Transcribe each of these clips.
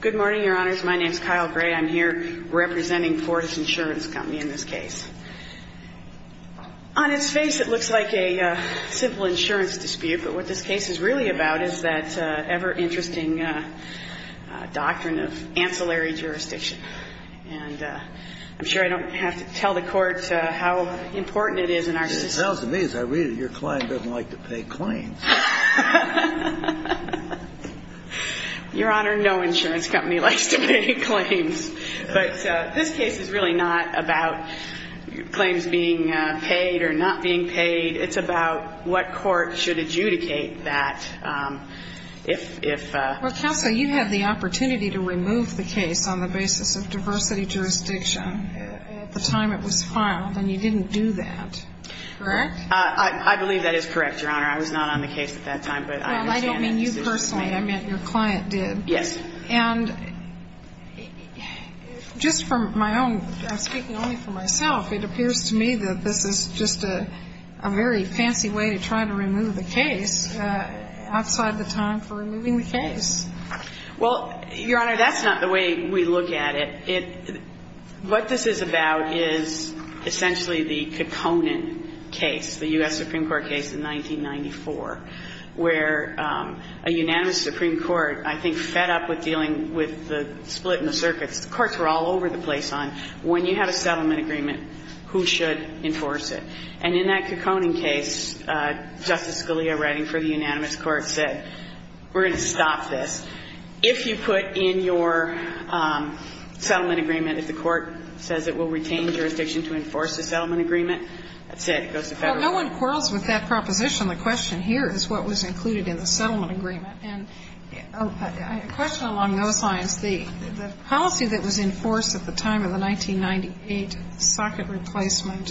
Good morning, Your Honors. My name is Kyle Gray. I'm here representing Fortis Insurance Company in this case. On its face, it looks like a simple insurance dispute, but what this case is really about is that ever-interesting doctrine of ancillary jurisdiction. And I'm sure I don't have to tell the Court how important it is in our system. It sounds to me as I read it, your client doesn't like to pay claims. Your Honor, no insurance company likes to pay claims. But this case is really not about claims being paid or not being paid. It's about what court should adjudicate that if… Well, Counsel, you had the opportunity to remove the case on the basis of diversity jurisdiction at the time it was filed, and you didn't do that, correct? I believe that is correct, Your Honor. I was not on the case at that time, but I understand that decision. Well, I don't mean you personally. I meant your client did. Yes. And just from my own – I'm speaking only for myself – it appears to me that this is just a very fancy way to try to remove the case outside the time for removing the case. Well, Your Honor, that's not the way we look at it. It – what this is about is essentially the Kekkonen case, the U.S. Supreme Court case in 1994, where a unanimous Supreme Court, I think, fed up with dealing with the split in the circuits. The courts were all over the place on when you have a settlement agreement, who should enforce it. And in that Kekkonen case, Justice Scalia, writing for the unanimous court, said, we're going to stop this. If you put in your settlement agreement, if the court says it will retain jurisdiction to enforce the settlement agreement, that's it. It goes to Federal law. Well, no one quarrels with that proposition. The question here is what was included in the settlement agreement. And a question along those lines, the policy that was enforced at the time of the 1998 socket replacement,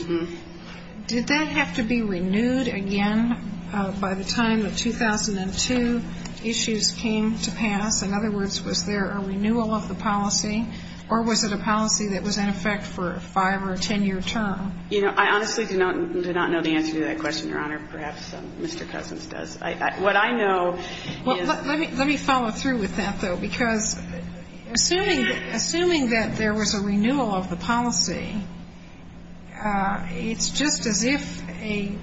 did that have to be renewed again by the time the 2002 issues came to pass? In other words, was there a renewal of the policy, or was it a policy that was in effect for a 5- or a 10-year term? You know, I honestly do not know the answer to that question, Your Honor. Perhaps Mr. Cousins does. What I know is the answer is yes. Well, let me follow through with that, though, because assuming that there was a renewal of the policy, it's just as if a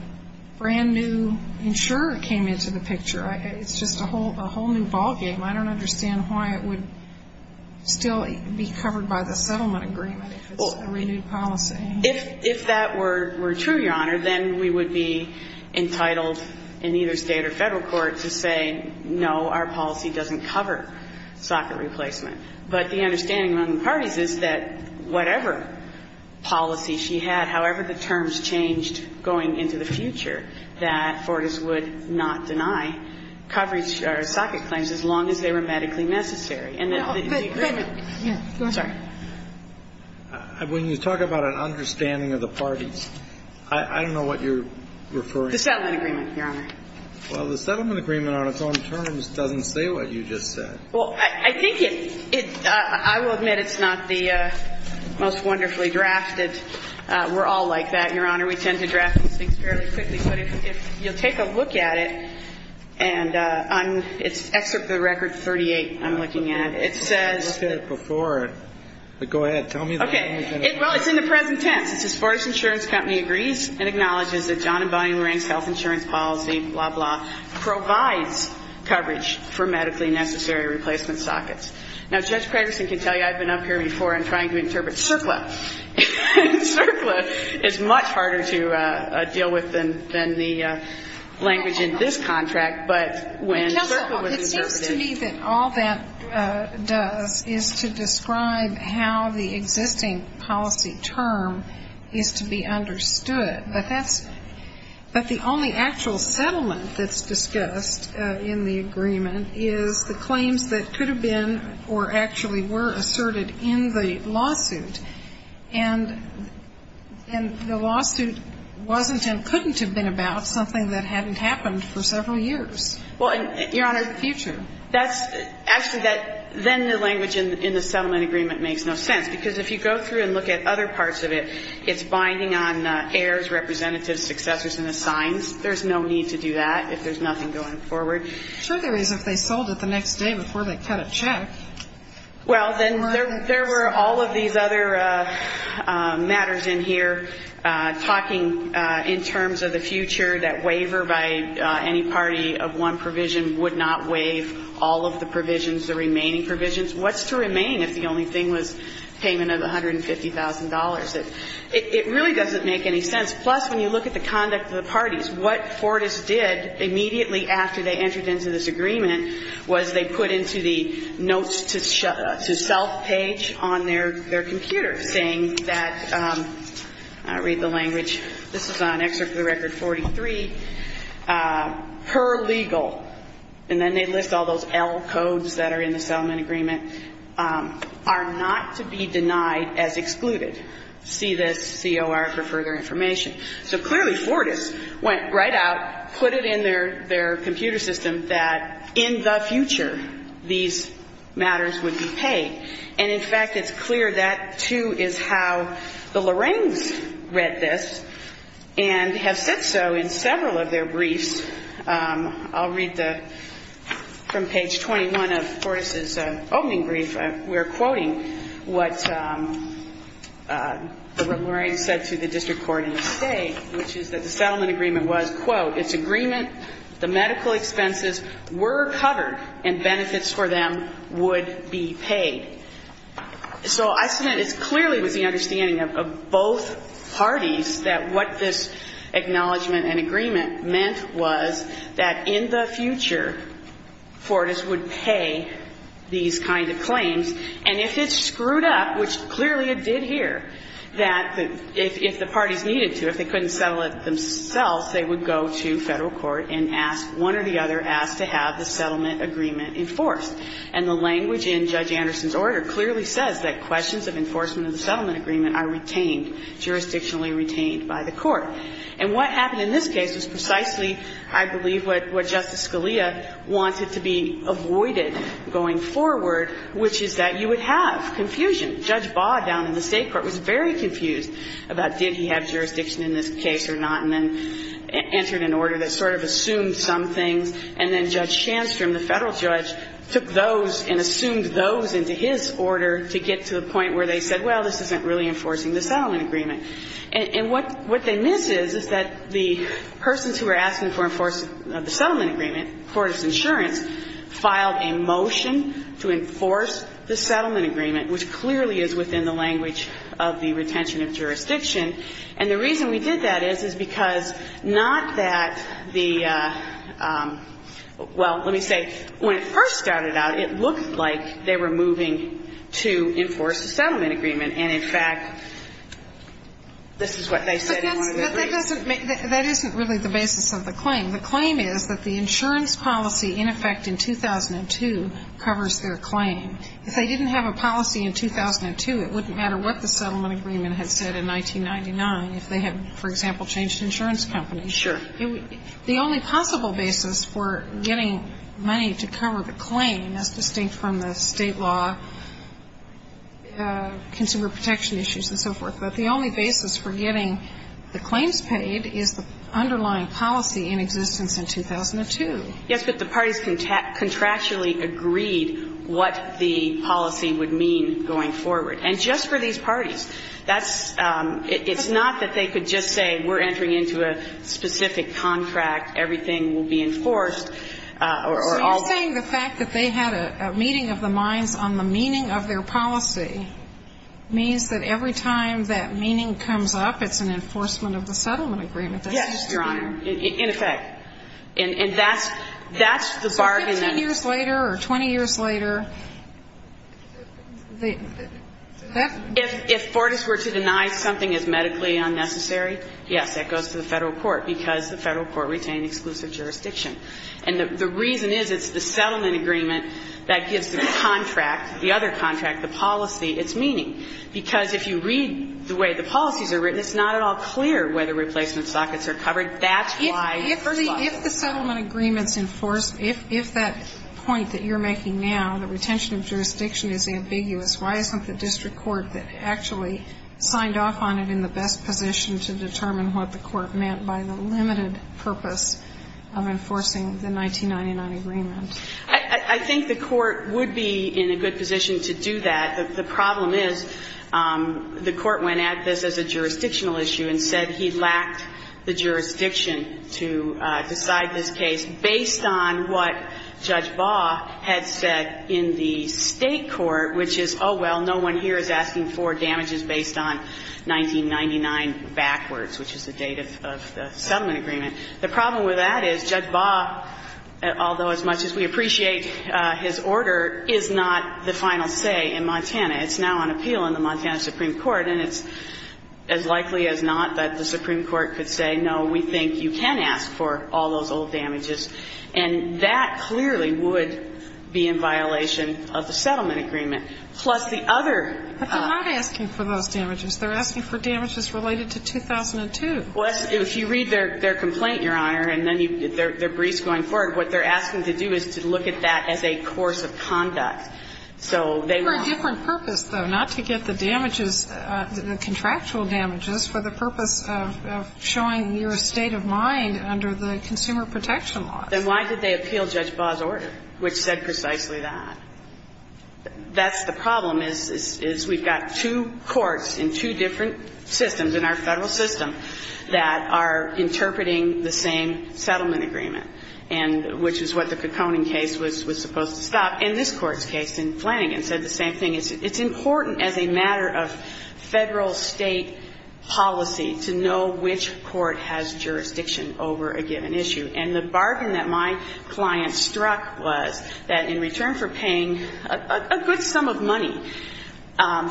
brand-new insurer came into the picture. It's just a whole new ballgame. I don't understand why it would still be covered by the settlement agreement if it's a renewed policy. If that were true, Your Honor, then we would be entitled in either State or Federal court to say, no, our policy doesn't cover socket replacement. But the understanding among the parties is that whatever policy she had, however the terms changed going into the future, that Fortas would not deny coverage or socket claims as long as they were medically necessary. So the understanding of the parties, I don't know what you're referring to. The settlement agreement, Your Honor. Well, the settlement agreement on its own terms doesn't say what you just said. Well, I think it – I will admit it's not the most wonderfully drafted. We're all like that, Your Honor. We tend to draft these things fairly quickly. But if you'll take a look at it, and on – it's Excerpt of the Record 38 I'm looking at. It says – I looked at it before. But go ahead. Tell me the language in it. Well, it's in the present tense. It says, Fortas Insurance Company agrees and acknowledges that John and Bonnie Lurang's health insurance policy, blah, blah, provides coverage for medically necessary replacement sockets. Now, Judge Craigerson can tell you I've been up here before and trying to interpret CERCLA. CERCLA is much harder to deal with than the language in this contract. But when CERCLA was interpreted – is to be understood. But that's – but the only actual settlement that's discussed in the agreement is the claims that could have been or actually were asserted in the lawsuit. And the lawsuit wasn't and couldn't have been about something that hadn't happened for several years. Well, Your Honor, that's – actually, that – then the language in the settlement agreement makes no sense. Because if you go through and look at other parts of it, it's binding on heirs, representatives, successors, and assigns. There's no need to do that if there's nothing going forward. Sure there is if they sold it the next day before they cut a check. Well, then there were all of these other matters in here talking in terms of the future that waiver by any party of one provision would not waive all of the provisions, the remaining provisions. What's to remain if the only thing was payment of $150,000? It really doesn't make any sense. Plus, when you look at the conduct of the parties, what Fortas did immediately after they entered into this agreement was they put into the notes to self page on their computer saying that – I'll read the language. This is on Excerpt of the Record 43. Per legal. And then they list all those L codes that are in the settlement agreement are not to be denied as excluded. See this COR for further information. So clearly Fortas went right out, put it in their computer system that in the future these matters would be paid. And, in fact, it's clear that, too, is how the Loraines read this and have said so in several of their briefs. I'll read from page 21 of Fortas' opening brief. We're quoting what the Loraines said to the district court in the state, which is that the settlement agreement was, quote, its agreement the medical expenses were covered and benefits for them would be paid. So I said that it clearly was the understanding of both parties that what this was, that in the future Fortas would pay these kind of claims. And if it screwed up, which clearly it did here, that if the parties needed to, if they couldn't settle it themselves, they would go to federal court and ask one or the other, ask to have the settlement agreement enforced. And the language in Judge Anderson's order clearly says that questions of enforcement of the settlement agreement are retained, jurisdictionally retained by the court. And what happened in this case was precisely, I believe, what Justice Scalia wanted to be avoided going forward, which is that you would have confusion. Judge Baugh down in the state court was very confused about did he have jurisdiction in this case or not, and then entered an order that sort of assumed some things. And then Judge Shandstrom, the federal judge, took those and assumed those into his order to get to the point where they said, well, this isn't really enforcing the settlement agreement. And what they missed is, is that the persons who were asking for enforcement of the settlement agreement, Fortas Insurance, filed a motion to enforce the settlement agreement, which clearly is within the language of the retention of jurisdiction. And the reason we did that is, is because not that the – well, let me say, when it first started out, it looked like they were moving to enforce the settlement agreement, and in fact, this is what they said in one of their briefs. But that doesn't make – that isn't really the basis of the claim. The claim is that the insurance policy in effect in 2002 covers their claim. If they didn't have a policy in 2002, it wouldn't matter what the settlement agreement had said in 1999 if they had, for example, changed insurance companies. Sure. The only possible basis for getting money to cover the claim, that's distinct from the state law consumer protection issues and so forth, but the only basis for getting the claims paid is the underlying policy in existence in 2002. Yes, but the parties contractually agreed what the policy would mean going forward. And just for these parties. That's – it's not that they could just say, we're entering into a specific So you're saying the fact that they had a meeting of the minds on the meaning of their policy means that every time that meaning comes up, it's an enforcement of the settlement agreement. Yes, Your Honor. In effect. And that's – that's the bargain that – So 15 years later or 20 years later, that – If Fortas were to deny something as medically unnecessary, yes, that goes to the Federal Court, retaining exclusive jurisdiction. And the reason is it's the settlement agreement that gives the contract, the other contract, the policy, its meaning. Because if you read the way the policies are written, it's not at all clear whether replacement sockets are covered. That's why, first of all – If the settlement agreement's enforced, if that point that you're making now, the retention of jurisdiction, is ambiguous, why isn't the district court that actually signed off on it in the best position to determine what the court meant by the limited purpose of enforcing the 1999 agreement? I think the court would be in a good position to do that. The problem is the court went at this as a jurisdictional issue and said he lacked the jurisdiction to decide this case based on what Judge Baugh had said in the State Supreme Court, which is, oh, well, no one here is asking for damages based on 1999 backwards, which is the date of the settlement agreement. The problem with that is Judge Baugh, although as much as we appreciate his order, is not the final say in Montana. It's now on appeal in the Montana Supreme Court, and it's as likely as not that the Supreme Court could say, no, we think you can ask for all those old damages. And that clearly would be in violation of the settlement agreement. Plus the other ---- But they're not asking for those damages. They're asking for damages related to 2002. Well, if you read their complaint, Your Honor, and then their briefs going forward, what they're asking to do is to look at that as a course of conduct. So they want ---- For a different purpose, though, not to get the damages, the contractual damages, for the purpose of showing your state of mind under the Consumer Protection Laws. Then why did they appeal Judge Baugh's order, which said precisely that? That's the problem, is we've got two courts in two different systems in our Federal system that are interpreting the same settlement agreement, and which is what the Caconan case was supposed to stop. And this Court's case in Flanagan said the same thing. It's important as a matter of Federal-State policy to know which court has jurisdiction over a given issue. And the bargain that my client struck was that in return for paying a good sum of money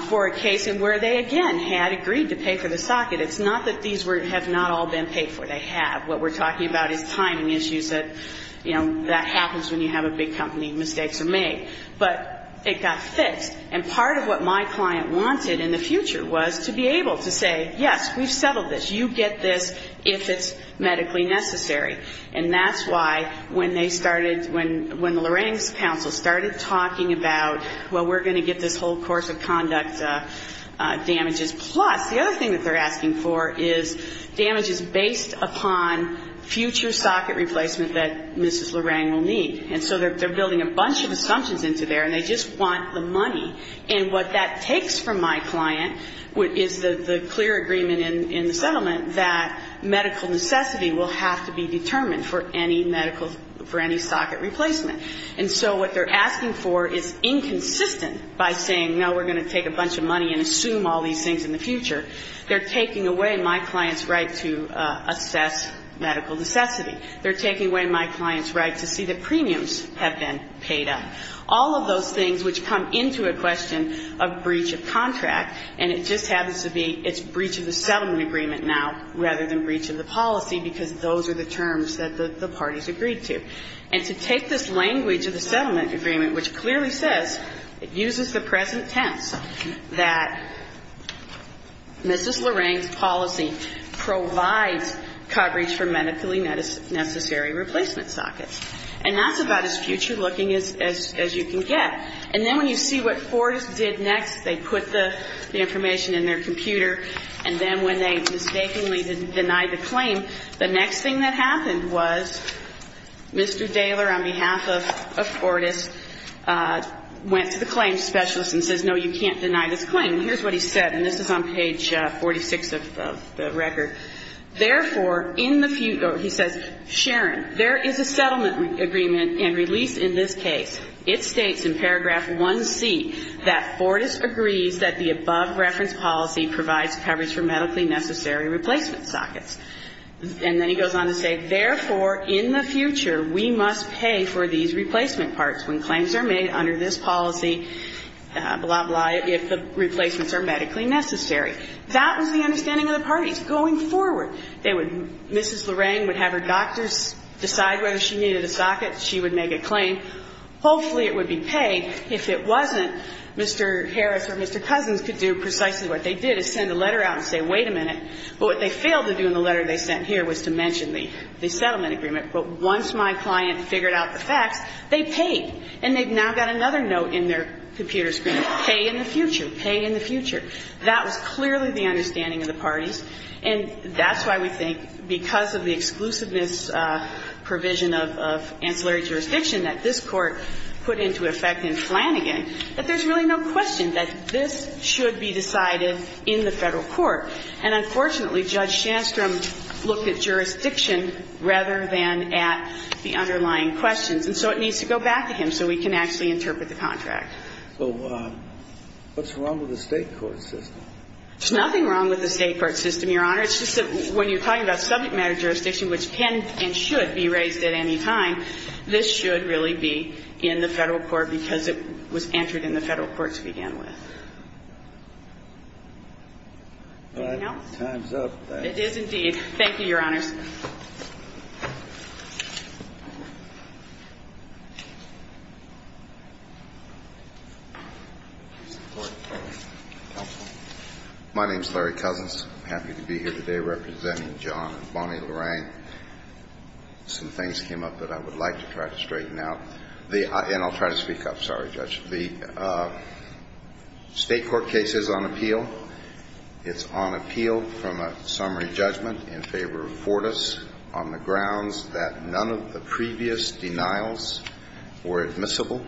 for a case where they, again, had agreed to pay for the socket, it's not that these have not all been paid for. They have. What we're talking about is timing issues that, you know, that happens when you have a big company. Mistakes are made. But it got fixed. And part of what my client wanted in the future was to be able to say, yes, we've settled this. You get this if it's medically necessary. And that's why when they started, when Lorang's counsel started talking about, well, we're going to get this whole course of conduct damages, plus the other thing that they're asking for is damages based upon future socket replacement that Mrs. Lorang will need. And so they're building a bunch of assumptions into there, and they just want the money. And what that takes from my client is the clear agreement in the settlement that medical necessity will have to be determined for any medical, for any socket replacement. And so what they're asking for is inconsistent by saying, no, we're going to take a bunch of money and assume all these things in the future. They're taking away my client's right to assess medical necessity. They're taking away my client's right to see that premiums have been paid up. All of those things which come into a question of breach of contract, and it just happens to be it's breach of the settlement agreement now rather than breach of the policy, because those are the terms that the parties agreed to. And to take this language of the settlement agreement, which clearly says, it uses the present tense, that Mrs. Lorang's policy provides coverage for medically necessary replacement sockets. And that's about as future-looking as you can get. And then when you see what Fortas did next, they put the information in their computer. And then when they mistakenly denied the claim, the next thing that happened was Mr. Daler, on behalf of Fortas, went to the claims specialist and says, no, you can't deny this claim. And here's what he said, and this is on page 46 of the record. Therefore, in the future, he says, Sharon, there is a settlement agreement and a release in this case. It states in paragraph 1C that Fortas agrees that the above-reference policy provides coverage for medically necessary replacement sockets. And then he goes on to say, therefore, in the future, we must pay for these replacement parts when claims are made under this policy, blah, blah, if the replacements are medically necessary. That was the understanding of the parties going forward. They would Mrs. Lorang would have her doctors decide whether she needed a socket. She would make a claim. Hopefully, it would be paid. If it wasn't, Mr. Harris or Mr. Cousins could do precisely what they did, is send a letter out and say, wait a minute. But what they failed to do in the letter they sent here was to mention the settlement agreement. But once my client figured out the facts, they paid. And they've now got another note in their computer screen, pay in the future, pay in the future. That was clearly the understanding of the parties. And that's why we think, because of the exclusiveness provision of ancillary jurisdiction that this Court put into effect in Flanagan, that there's really no question that this should be decided in the Federal court. And unfortunately, Judge Shandstrom looked at jurisdiction rather than at the underlying questions. And so it needs to go back to him so we can actually interpret the contract. So what's wrong with the State court system? There's nothing wrong with the State court system, Your Honor. It's just that when you're talking about subject matter jurisdiction, which can and should be raised at any time, this should really be in the Federal court because it was entered in the Federal court to begin with. Anything else? Time's up. It is indeed. Thank you, Your Honors. My name is Larry Cousins. I'm happy to be here today representing John and Bonnie Lorraine. Some things came up that I would like to try to straighten out. And I'll try to speak up. Sorry, Judge. The State court case is on appeal. It's on appeal from a summary judgment in favor of four to five. And the State court has supported us on the grounds that none of the previous denials were admissible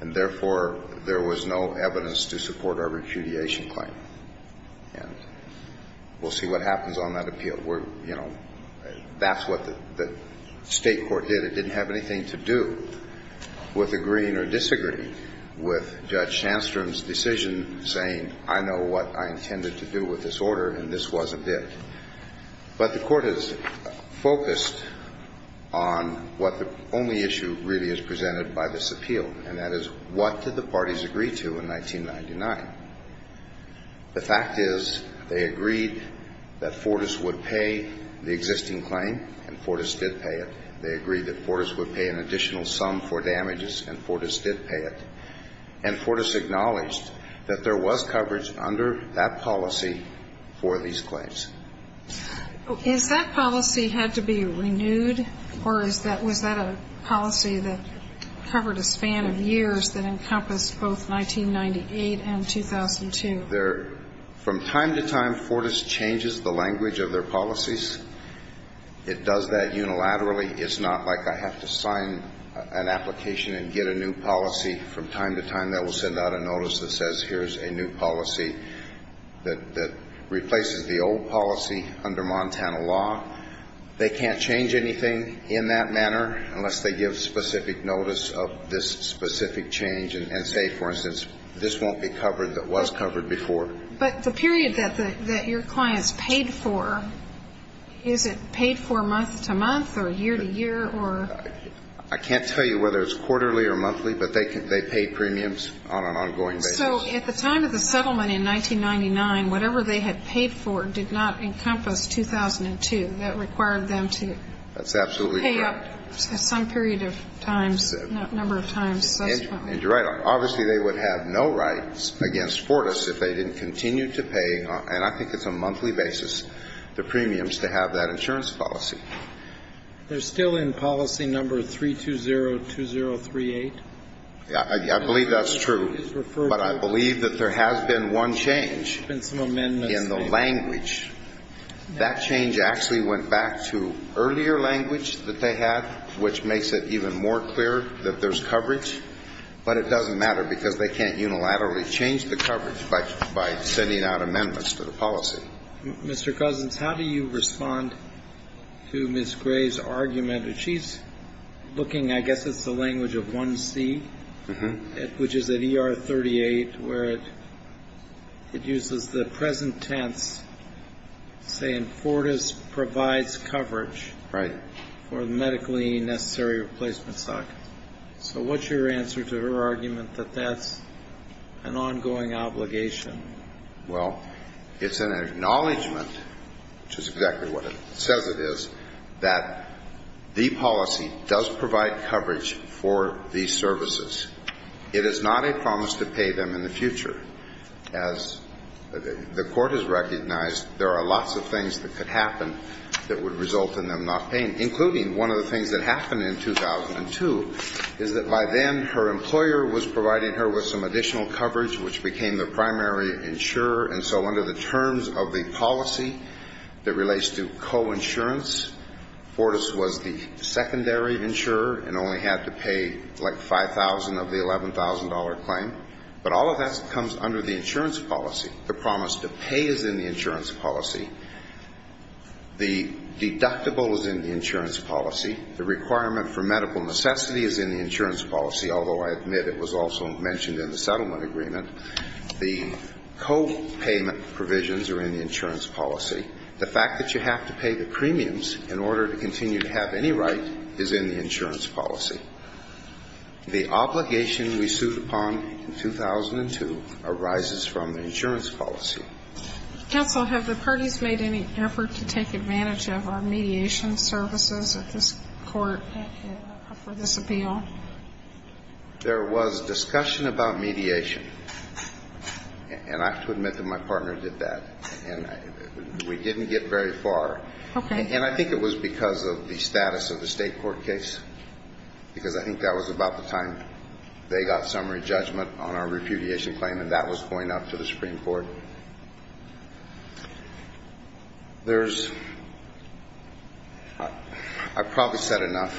and therefore there was no evidence to support our repudiation claim. And we'll see what happens on that appeal. We're, you know, that's what the State court did. It didn't have anything to do with agreeing or disagreeing with Judge Shandstrom's decision saying I know what I intended to do with this order and this wasn't it. But the court has focused on what the only issue really is presented by this appeal. And that is what did the parties agree to in 1999? The fact is they agreed that Fortas would pay the existing claim and Fortas did pay it. They agreed that Fortas would pay an additional sum for damages and Fortas did pay it. And Fortas acknowledged that there was coverage under that policy for these claims. Is that policy had to be renewed or was that a policy that covered a span of years that encompassed both 1998 and 2002? From time to time Fortas changes the language of their policies. It does that unilaterally. It's not like I have to sign an application and get a new policy from time to time that will send out a notice that says here's a new policy that replaces the old policy under Montana law. They can't change anything in that manner unless they give specific notice of this specific change and say, for instance, this won't be covered that was covered before. But the period that your clients paid for, is it paid for month to month or year to year or? I can't tell you whether it's quarterly or monthly, but they pay premiums on an ongoing basis. So at the time of the settlement in 1999, whatever they had paid for did not encompass 2002. That required them to pay up some period of times, number of times. And you're right. Obviously they would have no rights against Fortas if they didn't continue to pay, and I think it's a monthly basis, the premiums to have that insurance policy. They're still in policy number 3202038. I believe that's true. But I believe that there has been one change in the language. That change actually went back to earlier language that they had, which makes it even more clear that there's coverage. But it doesn't matter because they can't unilaterally change the coverage by sending out amendments to the policy. Mr. Cousins, how do you respond to Ms. Gray's argument? She's looking, I guess it's the language of 1C, which is at ER 38, where it uses the present tense saying Fortas provides coverage for medically necessary replacement stock. So what's your answer to her argument that that's an ongoing obligation? Well, it's an acknowledgement, which is exactly what it says it is, that the policy does provide coverage for these services. It is not a promise to pay them in the future. As the Court has recognized, there are lots of things that could happen that would result in them not paying, including one of the things that happened in 2002 is that by then her employer was providing her with some additional coverage, which became the primary insurer. And so under the terms of the policy that relates to coinsurance, Fortas was the secondary insurer and only had to pay like $5,000 of the $11,000 claim. But all of that comes under the insurance policy. The promise to pay is in the insurance policy. The deductible is in the insurance policy. The requirement for medical necessity is in the insurance policy, although I admit it was also mentioned in the settlement agreement. The copayment provisions are in the insurance policy. The fact that you have to pay the premiums in order to continue to have any right is in the insurance policy. The obligation we sued upon in 2002 arises from the insurance policy. Counsel, have the parties made any effort to take advantage of our mediation services at this court for this appeal? There was discussion about mediation. And I have to admit that my partner did that. And we didn't get very far. Okay. And I think it was because of the status of the state court case because I think that was about the time they got summary judgment on our repudiation claim, and that was going up to the Supreme Court. I've probably said enough.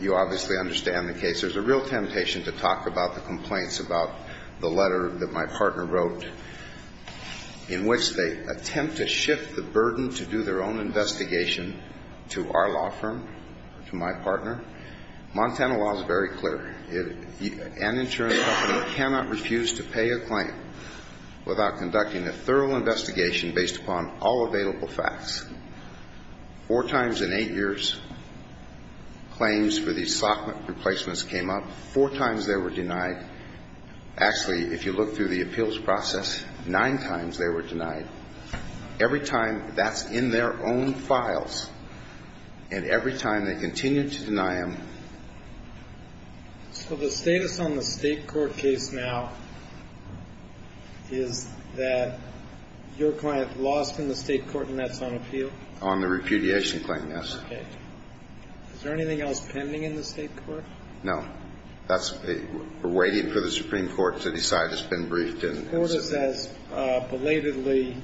You obviously understand the case. There's a real temptation to talk about the complaints about the letter that my partner wrote in which they attempt to shift the burden to do their own investigation to our law firm, to my partner. Montana law is very clear. An insurance company cannot refuse to pay a claim without going through and without conducting a thorough investigation based upon all available facts. Four times in eight years, claims for these SOCMA replacements came up. Four times they were denied. Actually, if you look through the appeals process, nine times they were denied. Every time, that's in their own files. And every time they continue to deny them. So the status on the state court case now is that your client lost in the state court and that's on appeal? On the repudiation claim, yes. Okay. Is there anything else pending in the state court? No. We're waiting for the Supreme Court to decide. It's been briefed. The court has belatedly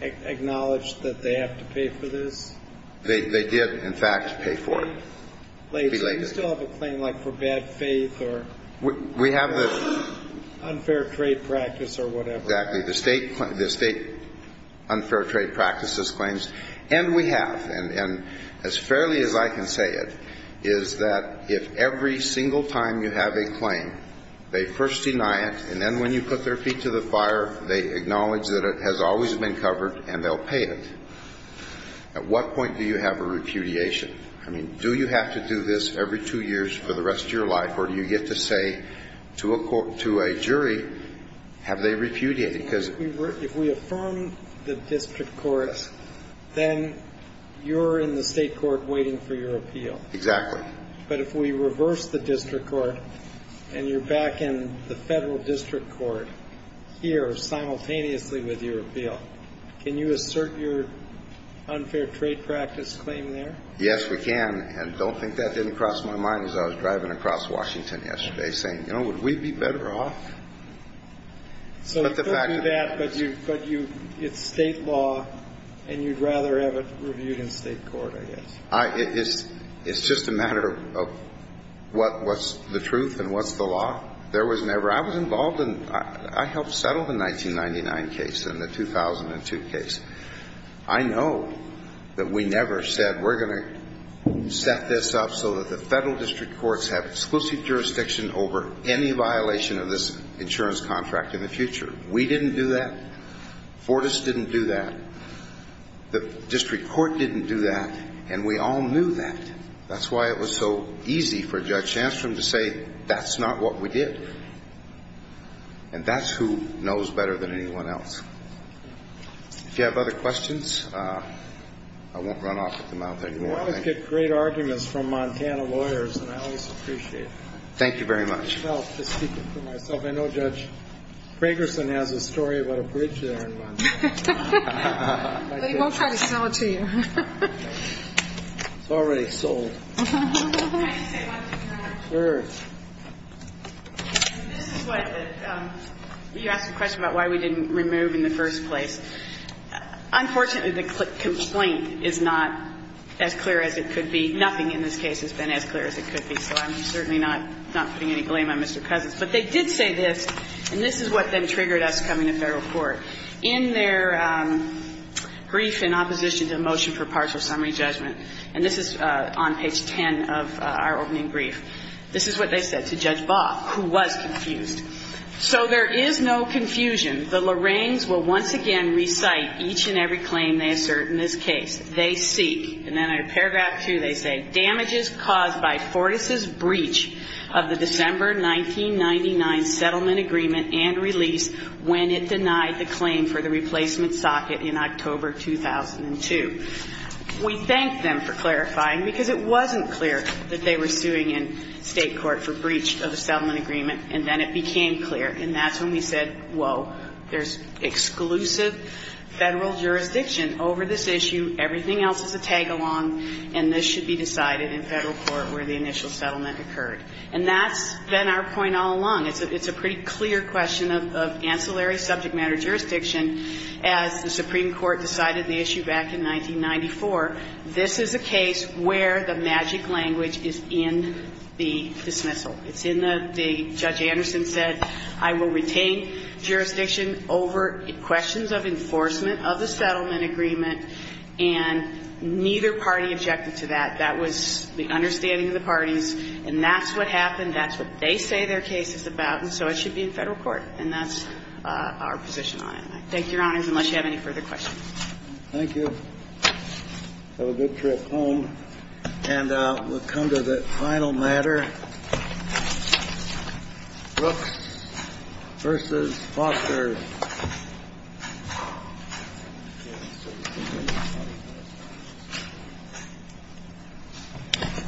acknowledged that they have to pay for this? They did, in fact, pay for it. So you still have a claim like for bad faith or unfair trade practice or whatever? Exactly. The state unfair trade practices claims. And we have. And as fairly as I can say it is that if every single time you have a claim, they first deny it and then when you put their feet to the fire, they acknowledge that it has always been covered and they'll pay it. At what point do you have a repudiation? I mean, do you have to do this every two years for the rest of your life or do you get to say to a jury, have they repudiated? If we affirm the district courts, then you're in the state court waiting for your appeal. Exactly. But if we reverse the district court and you're back in the federal district court here simultaneously with your appeal, can you assert your unfair trade practice claim there? Yes, we can. And don't think that didn't cross my mind as I was driving across Washington yesterday saying, you know, would we be better off? So you could do that, but it's state law, and you'd rather have it reviewed in state court, I guess. It's just a matter of what's the truth and what's the law. There was never – I was involved in – I helped settle the 1999 case and the 2002 case. I know that we never said we're going to set this up so that the federal district courts have exclusive jurisdiction over any violation of this insurance contract in the future. We didn't do that. Fortas didn't do that. The district court didn't do that. And we all knew that. That's why it was so easy for Judge Shanstrom to say that's not what we did. And that's who knows better than anyone else. If you have other questions, I won't run off at the mouth anymore. You always get great arguments from Montana lawyers, and I always appreciate it. Thank you very much. I'll just keep it to myself. I know Judge Fragerson has a story about a bridge there in Montana. He won't try to sell it to you. It's already sold. Can I just say one thing? Sure. This is what – you asked a question about why we didn't remove in the first place. Unfortunately, the complaint is not as clear as it could be. Nothing in this case has been as clear as it could be, so I'm certainly not putting any blame on Mr. Cousins. But they did say this, and this is what then triggered us coming to federal court. In their brief in opposition to a motion for partial summary judgment, and this is on page 10 of our opening brief, this is what they said to Judge Baugh, who was confused. So there is no confusion. The Loraines will once again recite each and every claim they assert in this case. They seek, and then in paragraph 2 they say, damages caused by Fortas' breach of the December 1999 settlement agreement and release when it denied the claim for the replacement socket in October 2002. We thanked them for clarifying, because it wasn't clear that they were suing in State court for breach of the settlement agreement, and then it became clear. And that's when we said, whoa, there's exclusive Federal jurisdiction over this issue, everything else is a tag-along, and this should be decided in Federal court where the initial settlement occurred. And that's been our point all along. It's a pretty clear question of ancillary subject matter jurisdiction as the Supreme Court decided the issue back in 1994. This is a case where the magic language is in the dismissal. It's in the Judge Anderson said, I will retain jurisdiction over questions of enforcement of the settlement agreement, and neither party objected to that. That was the understanding of the parties, and that's what happened. That's what they say their case is about, and so it should be in Federal court. And that's our position on it. Thank you, Your Honors, unless you have any further questions. Thank you. Have a good trip home. And we'll come to the final matter, Brooks v. Foster. Thank you.